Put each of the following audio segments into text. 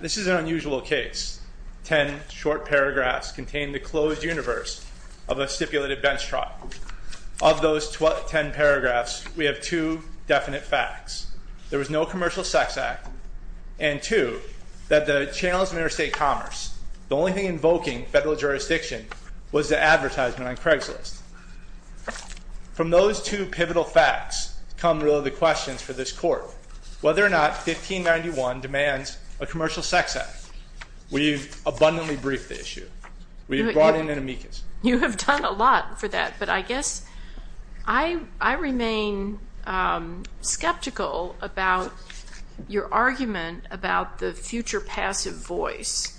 This is an unusual case. Ten short paragraphs contain the closed universe of a stipulated statute. In those ten paragraphs, we have two definite facts. There was no commercial sex act, and two, that the channels of interstate commerce, the only thing invoking federal jurisdiction was the advertisement on Craigslist. From those two pivotal facts come really the questions for this court. Whether or not 1591 demands a commercial sex act. We've abundantly briefed the issue. We've brought in an amicus. You have done a lot for that, but I guess I remain skeptical about your argument about the future passive voice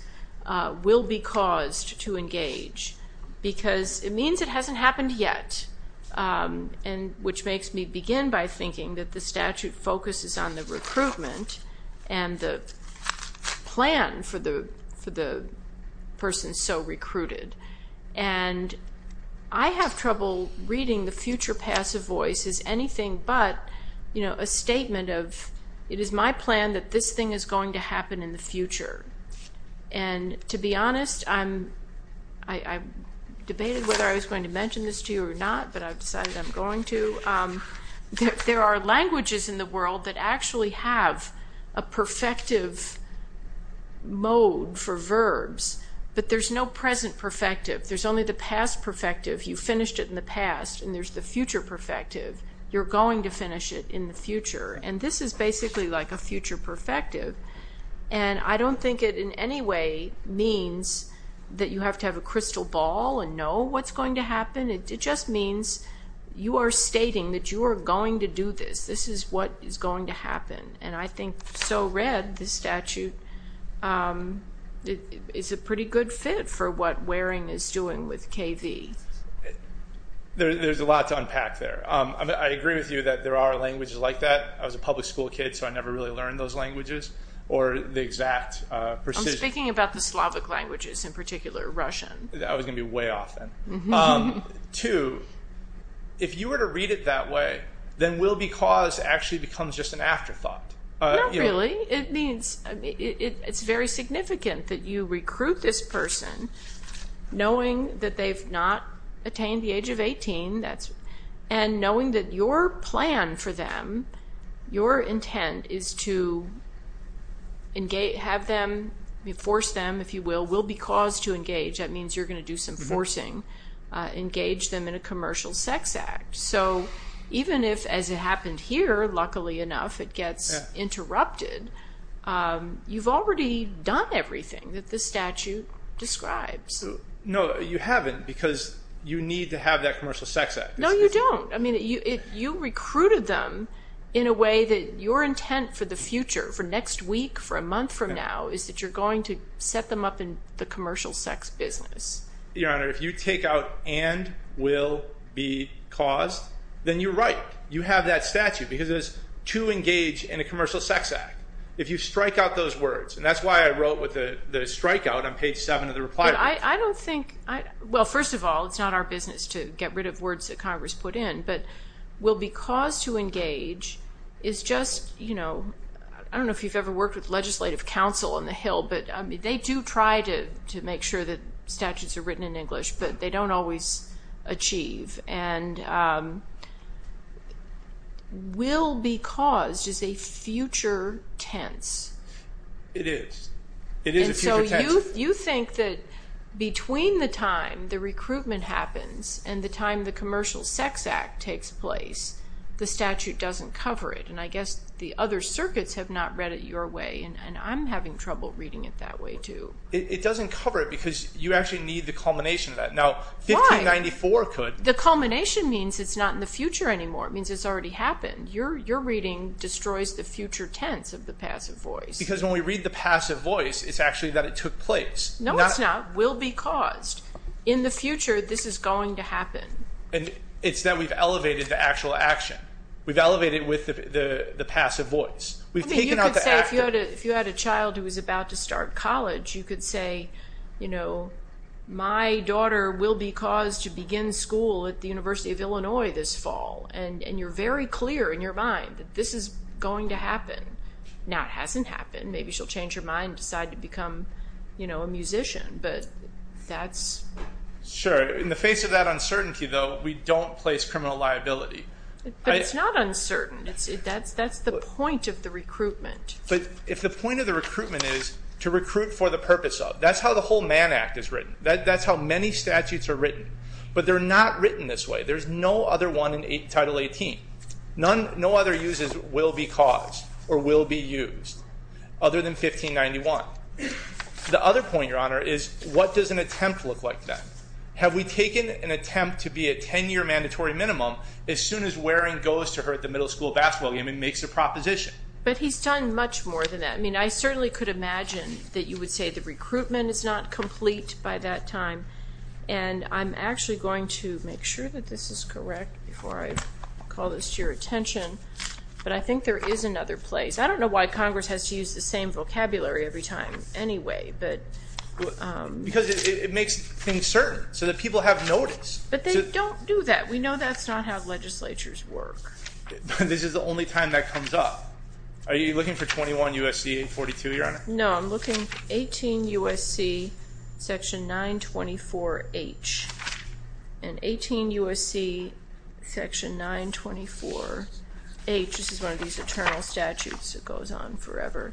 will be caused to engage because it means it hasn't happened yet, which makes me begin by thinking that the statute focuses on the recruitment and the plan for the person so recruited. I have trouble reading the future passive voice as anything but a statement of, it is my plan that this thing is going to happen in the future. To be honest, I debated whether I decided I'm going to. There are languages in the world that actually have a perfective mode for verbs, but there's no present perfective. There's only the past perfective. You finished it in the past, and there's the future perfective. You're going to finish it in the future. This is basically like a future perfective. I don't think it in any way means that you have to crystal ball and know what's going to happen. It just means you are stating that you are going to do this. This is what is going to happen. I think so read the statute. It's a pretty good fit for what Waring is doing with KV. There's a lot to unpack there. I agree with you that there are languages like that. I was a public school kid, so I never really learned those languages or the exact precision. Speaking about the Slavic languages, in particular Russian. That was going to be way off. Two, if you were to read it that way, then will be cause actually becomes just an afterthought. Not really. It's very significant that you recruit this person knowing that they've not attained the age of 18, and knowing that your plan for them, your intent is to have them force them, if you will, will be cause to engage. That means you're going to do some forcing, engage them in a commercial sex act. Even if, as it happened here, luckily enough it gets interrupted, you've already done everything that the statute describes. No, you haven't because you need to have that commercial sex act. No, you don't. You recruited them in a way that your intent for the future, for next year, is you're going to set them up in the commercial sex business. Your Honor, if you take out and will be caused, then you're right. You have that statute because it is to engage in a commercial sex act. If you strike out those words, and that's why I wrote with the strike out on page seven of the reply. I don't think, well, first of all, it's not our business to get rid of words that Congress put in, but will be cause to engage is just, I don't know if you've ever worked with legislative counsel on the Hill, but they do try to make sure that statutes are written in English, but they don't always achieve. Will be caused is a future tense. It is. It is a future tense. You think that between the time the recruitment happens and the time the commercial sex act takes place, the statute doesn't cover it. I guess the other circuits have not read it your way, and I'm having trouble reading it that way, too. It doesn't cover it because you actually need the culmination of that. Now, 1594 could. The culmination means it's not in the future anymore. It means it's already happened. Your reading destroys the future tense of the passive voice. Because when we read the passive voice, it's actually that it took place. No, it's not. Will be caused. In the future, this is going to happen. It's that we've elevated the actual action. We've elevated with the passive voice. You could say if you had a child who was about to start college, you could say, my daughter will be caused to begin school at the University of Illinois this fall, and you're very clear in your mind that this is going to happen. Now, it hasn't happened. Maybe she'll change her mind and decide to become a musician, but that's... Sure. In the face of that uncertainty, though, we don't place criminal liability. But it's not uncertain. That's the point of the recruitment. If the point of the recruitment is to recruit for the purpose of, that's how the whole Mann Act is written. That's how many statutes are written. But they're not written this way. There's no other one in Title 18. No other uses will be caused or will be used other than 1591. The other point, Your Honor, is what does an attempt look like then? Have we taken an attempt to be a 10-year mandatory minimum as soon as wearing goes to her at the middle school basketball game and makes a proposition? But he's done much more than that. I mean, I certainly could imagine that you would say the recruitment is not complete by that time. And I'm actually going to make sure that this is correct before I call this to your attention, but I think there is another place. I don't know why Congress has to use the same vocabulary every time anyway, but... Because it makes things certain so that people have notice. But they don't do that. We know that's not how legislatures work. This is the only time that comes up. Are you looking for 21 U.S.C. 842, Your Honor? No, I'm looking 18 U.S.C. section 924H. And 18 U.S.C. section 924H, this is one of these eternal statutes that goes on forever,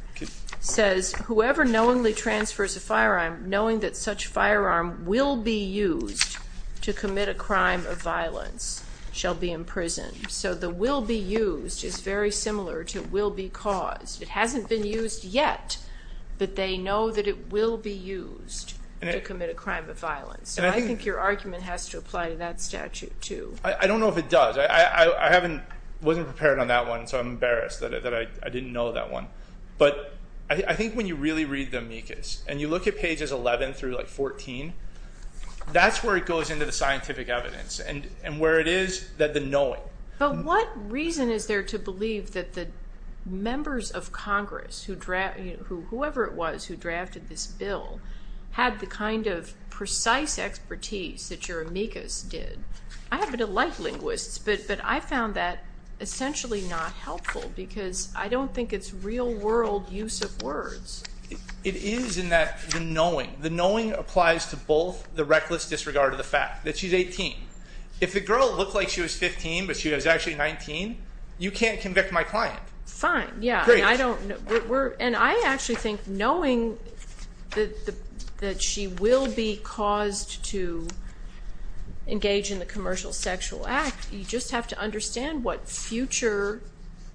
says, whoever knowingly transfers a firearm knowing that such firearm will be used to commit a crime of violence shall be imprisoned. So the will be used is very similar to will be caused. It hasn't been used yet, but they know that it will be used to commit a crime of violence. So I think your argument has to apply to that statute too. I don't know if it does. I wasn't prepared on that one, so I'm embarrassed that I didn't know that one. But I think when you really read the amicus and you look at pages 11 through like 14, that's where it goes into the scientific evidence and where it is that the knowing... But what reason is there to believe that the members of Congress, whoever it was who drafted this bill, had the kind of precise expertise that your amicus did? I happen to like linguists, but I found that essentially not helpful because I don't think it's real world use of words. It is in that the knowing, the knowing applies to both the reckless disregard of the fact that she's 18. If the girl looked like she was 15, but she was actually 19, you can't convict my client. Fine, yeah. And I actually think knowing that she will be caused to engage in the commercial sexual act, you just have to understand what future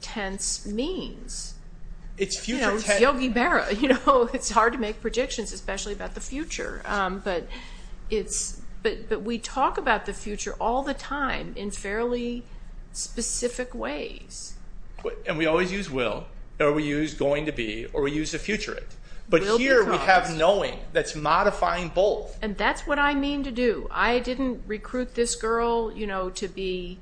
tense means. It's Yogi Berra. It's hard to make predictions, especially about the future. But we talk about the future all the time in fairly specific ways. And we always use will, or we use going to be, or we use the future it. Will becomes. But here we have knowing that's modifying both. And that's what I mean to do. I didn't recruit this girl to be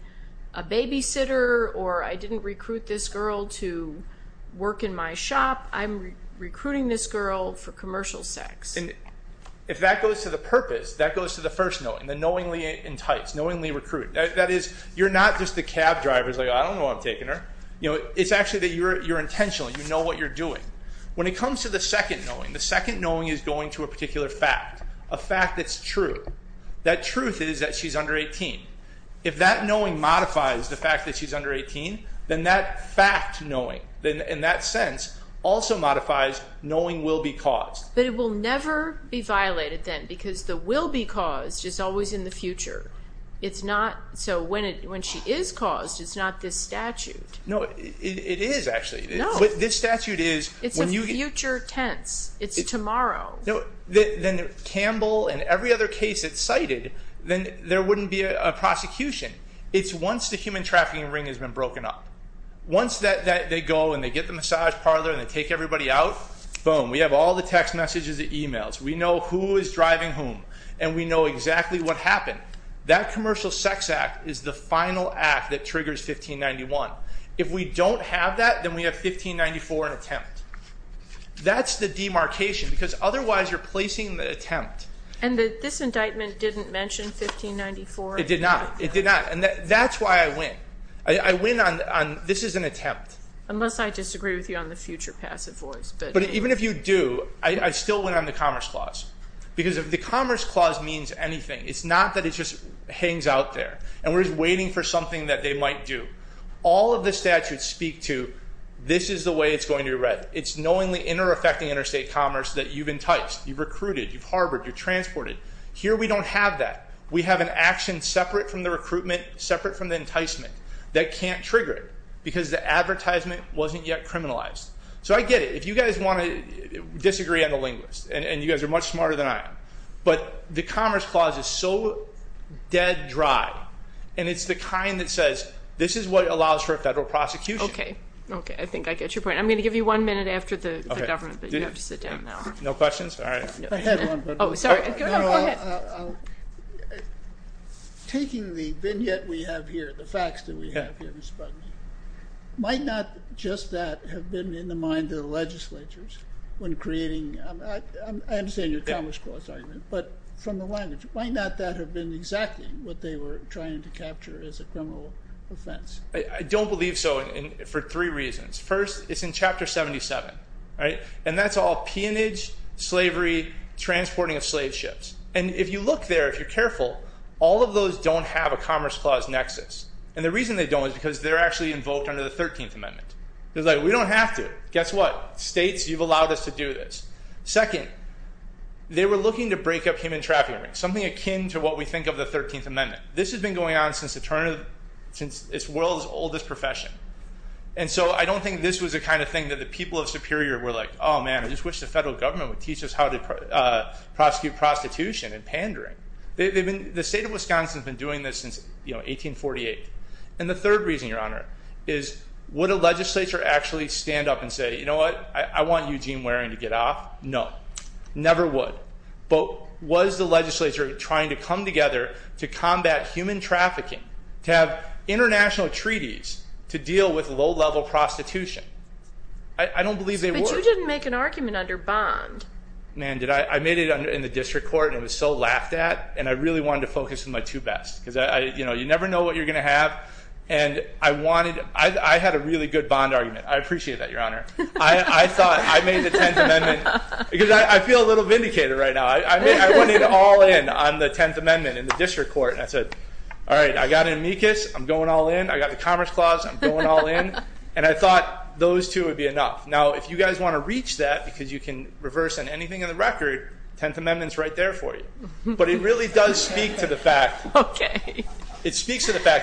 a babysitter, or I didn't recruit this girl to work in my shop. I'm recruiting this girl for commercial sex. If that goes to the purpose, that goes to the first knowing, the knowingly entice, knowingly recruit. That is, you're not just the cab driver who's like, I don't know why I'm taking her. It's actually that you're intentional, you know what you're doing. When it comes to the second knowing, the second knowing is going to a particular fact, a fact that's true. That truth is that she's under 18. If that knowing modifies the fact that she's under 18, then that fact knowing, in that sense, also modifies knowing will be caused. But it will never be violated then, because the will be caused is always in the future. It's not, so when she is caused, it's not this statute. No, it is actually. But this statute is, when you get- It's a future tense. It's tomorrow. Then Campbell and every other case that's cited, then there wouldn't be a prosecution. It's once the human trafficking ring has been broken up. Once they go and they get the massage parlor and they take everybody out, boom, we have all the text messages, the emails. We know who is driving whom, and we know exactly what happened. That commercial sex act is the final act that triggers 1591. If we don't have that, then we have 1594 and attempt. That's the demarcation, because otherwise you're placing the attempt. And this indictment didn't mention 1594? It did not. It did not, and that's why I win. I win on, this is an attempt. Unless I disagree with you on the future passive voice. But even if you do, I still win on the Commerce Clause, because the Commerce Clause means anything. It's not that it just hangs out there, and we're just waiting for something that they might do. All of the statutes speak to, this is the way it's going to be read. It's knowingly inter-affecting interstate commerce that you've enticed, you've recruited, you've harbored, you've transported. Here we don't have that. We have an action separate from the recruitment, separate from the enticement, that can't trigger it, because the advertisement wasn't yet criminalized. So I get it. If you guys want to disagree on the linguist, and you guys are much smarter than I am, but the Commerce Clause is so dead dry, and it's the kind that says, this is what allows for a federal prosecution. Okay, okay, I think I get your point. I'm going to give you one minute after the government, but you have to sit down now. No questions? All right. I had one, but... Oh, sorry, go ahead. No, no, I'll... Taking the vignette we have here, the facts that we have here, Mr. Budden, might not just that have been in the mind of the legislatures when creating... I understand your Commerce Clause argument, but from the language, might not that have been exactly what they were trying to capture as a criminal offense? I don't believe so for three reasons. First, it's in Chapter 77, and that's all peonage, slavery, transporting of slave ships. And if you look there, if you're careful, all of those don't have a Commerce Clause nexus. And the reason they don't is because they're actually invoked under the 13th Amendment. It's like, we don't have to. Guess what? States, you've allowed us to do this. Second, they were looking to break up human trafficking, something akin to what we think of the 13th Amendment. This has been going on since its world's oldest profession. And so I don't think this was the kind of thing that the people of Superior were like, oh, man, I just wish the federal government would teach us how to prosecute prostitution and pandering. The state of Wisconsin has been doing this since 1848. And the third reason, Your Honor, is would a legislature actually stand up and say, you know what, I want Eugene Waring to get off? No. Never would. But was the legislature trying to come together to combat human trafficking, to have international treaties to deal with low-level prostitution? I don't believe they were. But you didn't make an argument under Bond. Man, did I? I made it in the district court, and it was so laughed at, and I really wanted to focus on my two bets. Because, you know, you never know what you're going to have. And I had a really good Bond argument. I appreciate that, Your Honor. I thought I made the Tenth Amendment because I feel a little vindicated right now. I wanted to all in on the Tenth Amendment in the district court. And I said, all right, I got an amicus. I'm going all in. I got the Commerce Clause. I'm going all in. And I thought those two would be enough. Now, if you guys want to reach that because you can reverse anything in the record, the Tenth Amendment is right there for you. But it really does speak to the fact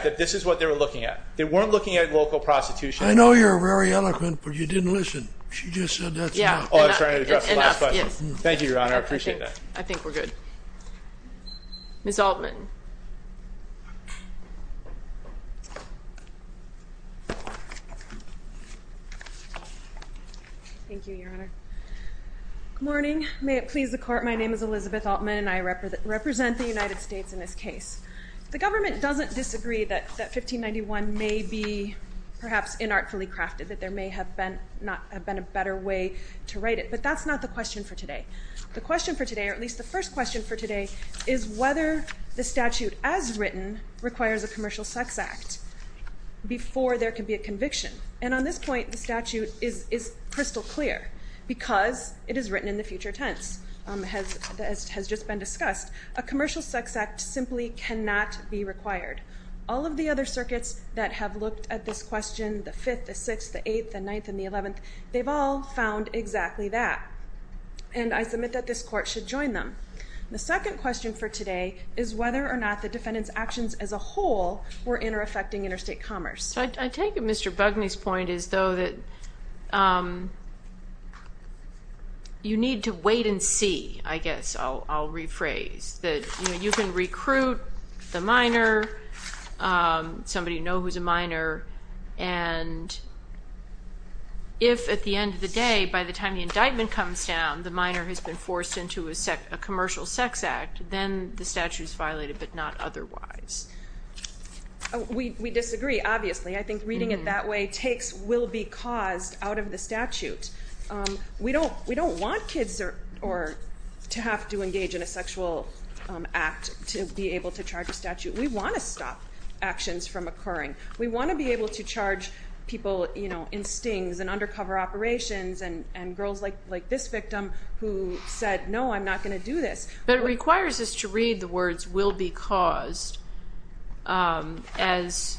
that this is what they were looking at. They weren't looking at local prostitution. I know you're very eloquent, but you didn't listen. She just said that's enough. Oh, I was trying to address the last question. Thank you, Your Honor. I appreciate that. I think we're good. Ms. Altman. Thank you, Your Honor. Good morning. May it please the Court, my name is Elizabeth Altman, and I represent the United States in this case. The government doesn't disagree that 1591 may be perhaps inartfully crafted, that there may have been a better way to write it, but that's not the question for today. The question for today, or at least the first question for today, is whether the statute as written requires a commercial sex act before there can be a conviction. And on this point, the statute is crystal clear because it is written in the future tense, as has just been discussed. A commercial sex act simply cannot be required. All of the other circuits that have looked at this question, the 5th, the 6th, the 8th, the 9th, and the 11th, they've all found exactly that. And I submit that this Court should join them. The second question for today is whether or not the defendant's actions as a whole were intereffecting interstate commerce. I take Mr. Bugney's point as though that you need to wait and see, I guess. I'll rephrase. You can recruit the minor, somebody you know who's a minor, and if at the end of the day, by the time the indictment comes down, the minor has been forced into a commercial sex act, then the statute is violated, but not otherwise. We disagree, obviously. I think reading it that way will be caused out of the statute. We don't want kids to have to engage in a sexual act to be able to charge a statute. We want to stop actions from occurring. We want to be able to charge people in stings and undercover operations and girls like this victim who said, no, I'm not going to do this. But it requires us to read the words will be caused as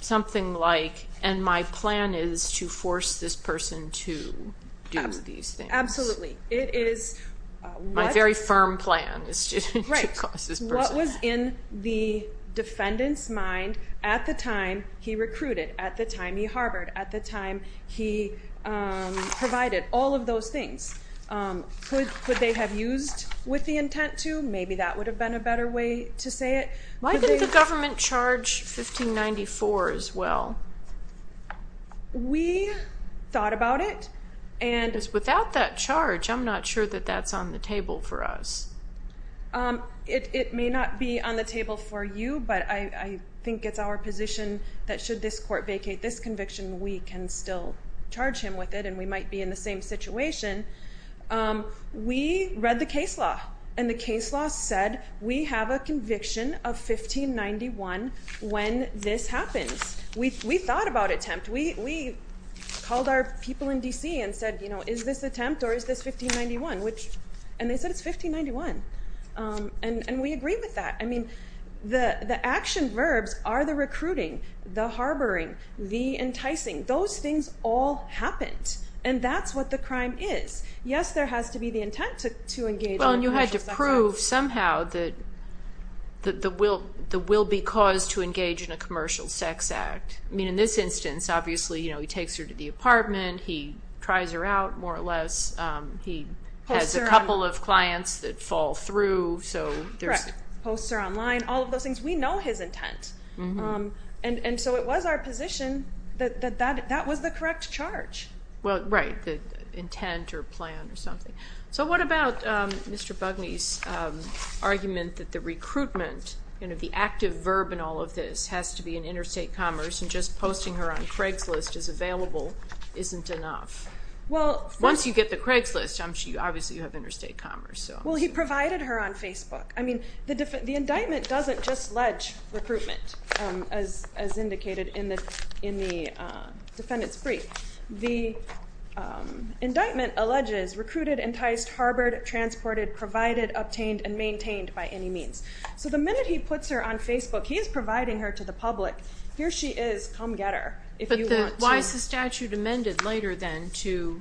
something like, and my plan is to force this person to do these things. Absolutely. My very firm plan is to cause this person. What was in the defendant's mind at the time he recruited, at the time he harbored, at the time he provided, all of those things, could they have used with the intent to? Maybe that would have been a better way to say it. Why didn't the government charge 1594 as well? We thought about it. Without that charge, I'm not sure that that's on the table for us. It may not be on the table for you, but I think it's our position that should this court vacate this conviction, we can still charge him with it and we might be in the same situation. We read the case law, and the case law said we have a conviction of 1591 when this happens. We thought about attempt. We called our people in D.C. and said, is this attempt or is this 1591? And they said it's 1591. And we agree with that. The action verbs are the recruiting, the harboring, the enticing. Those things all happened. And that's what the crime is. Yes, there has to be the intent to engage in a commercial sex act. Well, and you had to prove somehow that the will be caused to engage in a commercial sex act. I mean, in this instance, obviously, he takes her to the apartment. He tries her out, more or less. He has a couple of clients that fall through. Correct. Posts her online, all of those things. We know his intent. And so it was our position that that was the correct charge. Well, right, the intent or plan or something. So what about Mr. Bugney's argument that the recruitment, the active verb in all of this, has to be in interstate commerce and just posting her on Craigslist is available isn't enough? Once you get the Craigslist, obviously you have interstate commerce. Well, he provided her on Facebook. I mean, the indictment doesn't just ledge recruitment, as indicated in the defendant's brief. The indictment alleges recruited, enticed, harbored, transported, provided, obtained, and maintained by any means. So the minute he puts her on Facebook, he is providing her to the public. Here she is. Come get her if you want to. But why is the statute amended later then to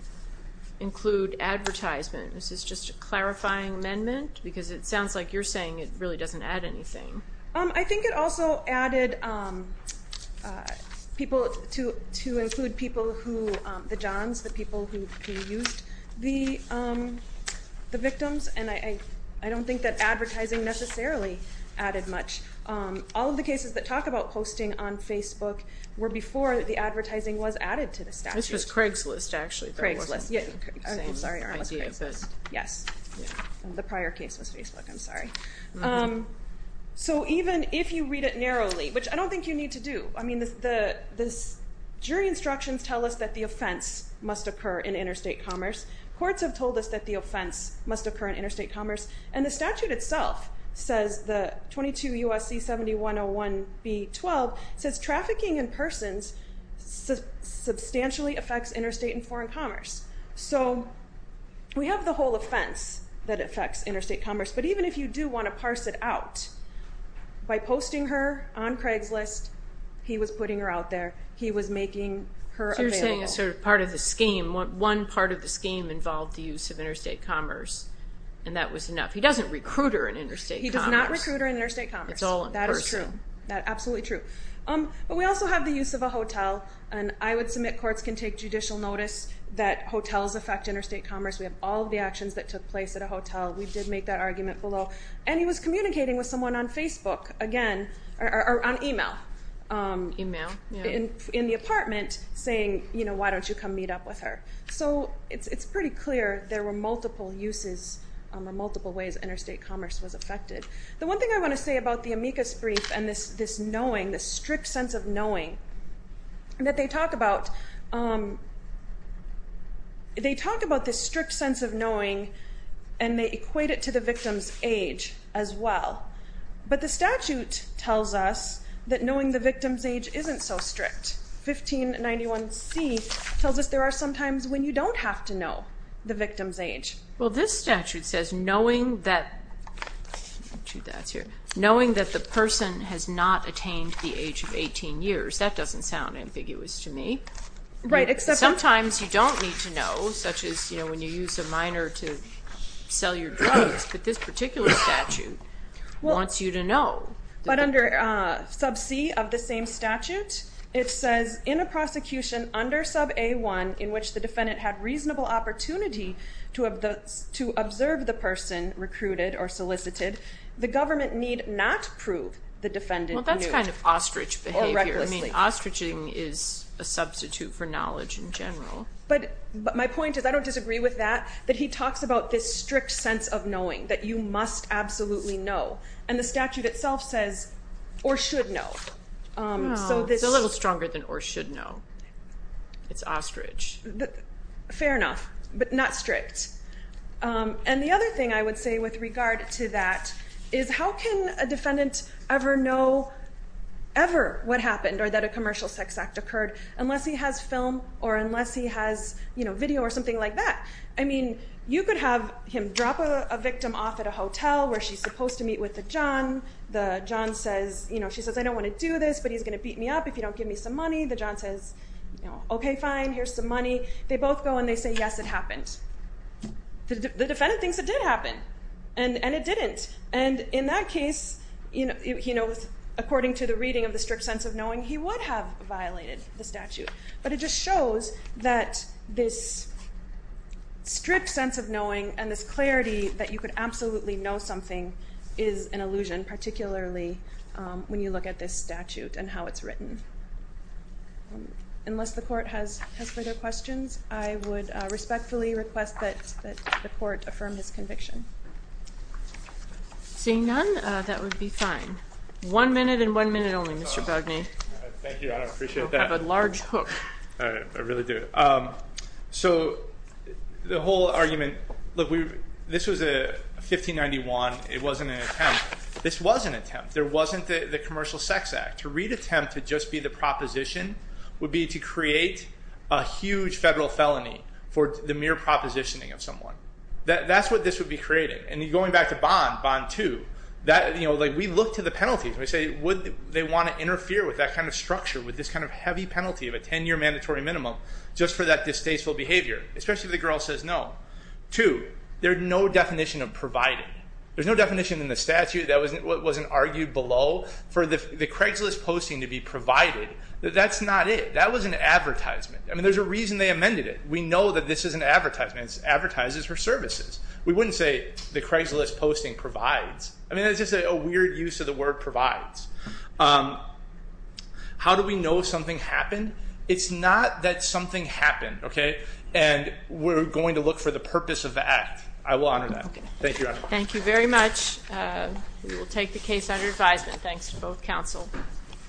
include advertisement? Is this just a clarifying amendment? Because it sounds like you're saying it really doesn't add anything. I think it also added people to include people who, the Johns, the people who used the victims. And I don't think that advertising necessarily added much. All of the cases that talk about posting on Facebook were before the advertising was added to the statute. This was Craigslist, actually. Craigslist. I'm sorry. Craigslist. Yes. The prior case was Facebook. I'm sorry. So even if you read it narrowly, which I don't think you need to do. I mean, the jury instructions tell us that the offense must occur in interstate commerce. Courts have told us that the offense must occur in interstate commerce. And the statute itself says, the 22 U.S.C. 7101 B-12, says trafficking in persons substantially affects interstate and foreign commerce. So we have the whole offense that affects interstate commerce. But even if you do want to parse it out, by posting her on Craigslist, he was putting her out there. He was making her available. One part of the scheme involved the use of interstate commerce, and that was enough. He doesn't recruit her in interstate commerce. He does not recruit her in interstate commerce. It's all in person. That is true. Absolutely true. But we also have the use of a hotel. And I would submit courts can take judicial notice that hotels affect interstate commerce. We have all of the actions that took place at a hotel. We did make that argument below. And he was communicating with someone on Facebook, again, or on e-mail. E-mail, yeah. In the apartment, saying, you know, why don't you come meet up with her? So it's pretty clear there were multiple uses or multiple ways interstate commerce was affected. The one thing I want to say about the amicus brief and this knowing, this strict sense of knowing that they talk about, they talk about this strict sense of knowing, and they equate it to the victim's age as well. But the statute tells us that knowing the victim's age isn't so strict. 1591C tells us there are some times when you don't have to know the victim's age. Well, this statute says knowing that the person has not attained the age of 18 years. That doesn't sound ambiguous to me. Sometimes you don't need to know, such as, you know, when you use a minor to sell your drugs. But this particular statute wants you to know. But under sub C of the same statute, it says, in a prosecution under sub A1 in which the defendant had reasonable opportunity to observe the person recruited or solicited, the government need not prove the defendant knew. Well, that's kind of ostrich behavior. I mean, ostriching is a substitute for knowledge in general. But my point is I don't disagree with that, that he talks about this strict sense of knowing that you must absolutely know. And the statute itself says or should know. It's a little stronger than or should know. It's ostrich. Fair enough, but not strict. And the other thing I would say with regard to that is how can a defendant ever know ever what happened or that a commercial sex act occurred unless he has film or unless he has video or something like that? I mean, you could have him drop a victim off at a hotel where she's supposed to meet with the John. The John says, you know, she says, I don't want to do this, but he's going to beat me up if you don't give me some money. The John says, OK, fine, here's some money. They both go and they say, yes, it happened. The defendant thinks it did happen and it didn't. And in that case, you know, according to the reading of the strict sense of knowing, he would have violated the statute. But it just shows that this strict sense of knowing and this clarity that you could absolutely know something is an illusion, particularly when you look at this statute and how it's written. Unless the court has further questions, I would respectfully request that the court affirm his conviction. Seeing none, that would be fine. One minute and one minute only, Mr. Bogni. Thank you. I appreciate that. You have a large hook. I really do. So the whole argument, look, this was a 1591. It wasn't an attempt. This was an attempt. There wasn't the Commercial Sex Act. To read attempt to just be the proposition would be to create a huge federal felony for the mere propositioning of someone. That's what this would be creating. And going back to bond, bond two, that, you know, like we look to the penalties and we say, would they want to interfere with that kind of structure, with this kind of heavy penalty of a 10-year mandatory minimum, just for that distasteful behavior, especially if the girl says no. Two, there's no definition of provided. There's no definition in the statute that wasn't argued below. For the Craigslist posting to be provided, that's not it. That was an advertisement. I mean, there's a reason they amended it. We know that this is an advertisement. It advertises for services. We wouldn't say the Craigslist posting provides. I mean, that's just a weird use of the word provides. How do we know something happened? It's not that something happened, okay, and we're going to look for the purpose of the act. I will honor that. Thank you, Your Honor. Thank you very much. We will take the case under advisement. Thanks to both counsel.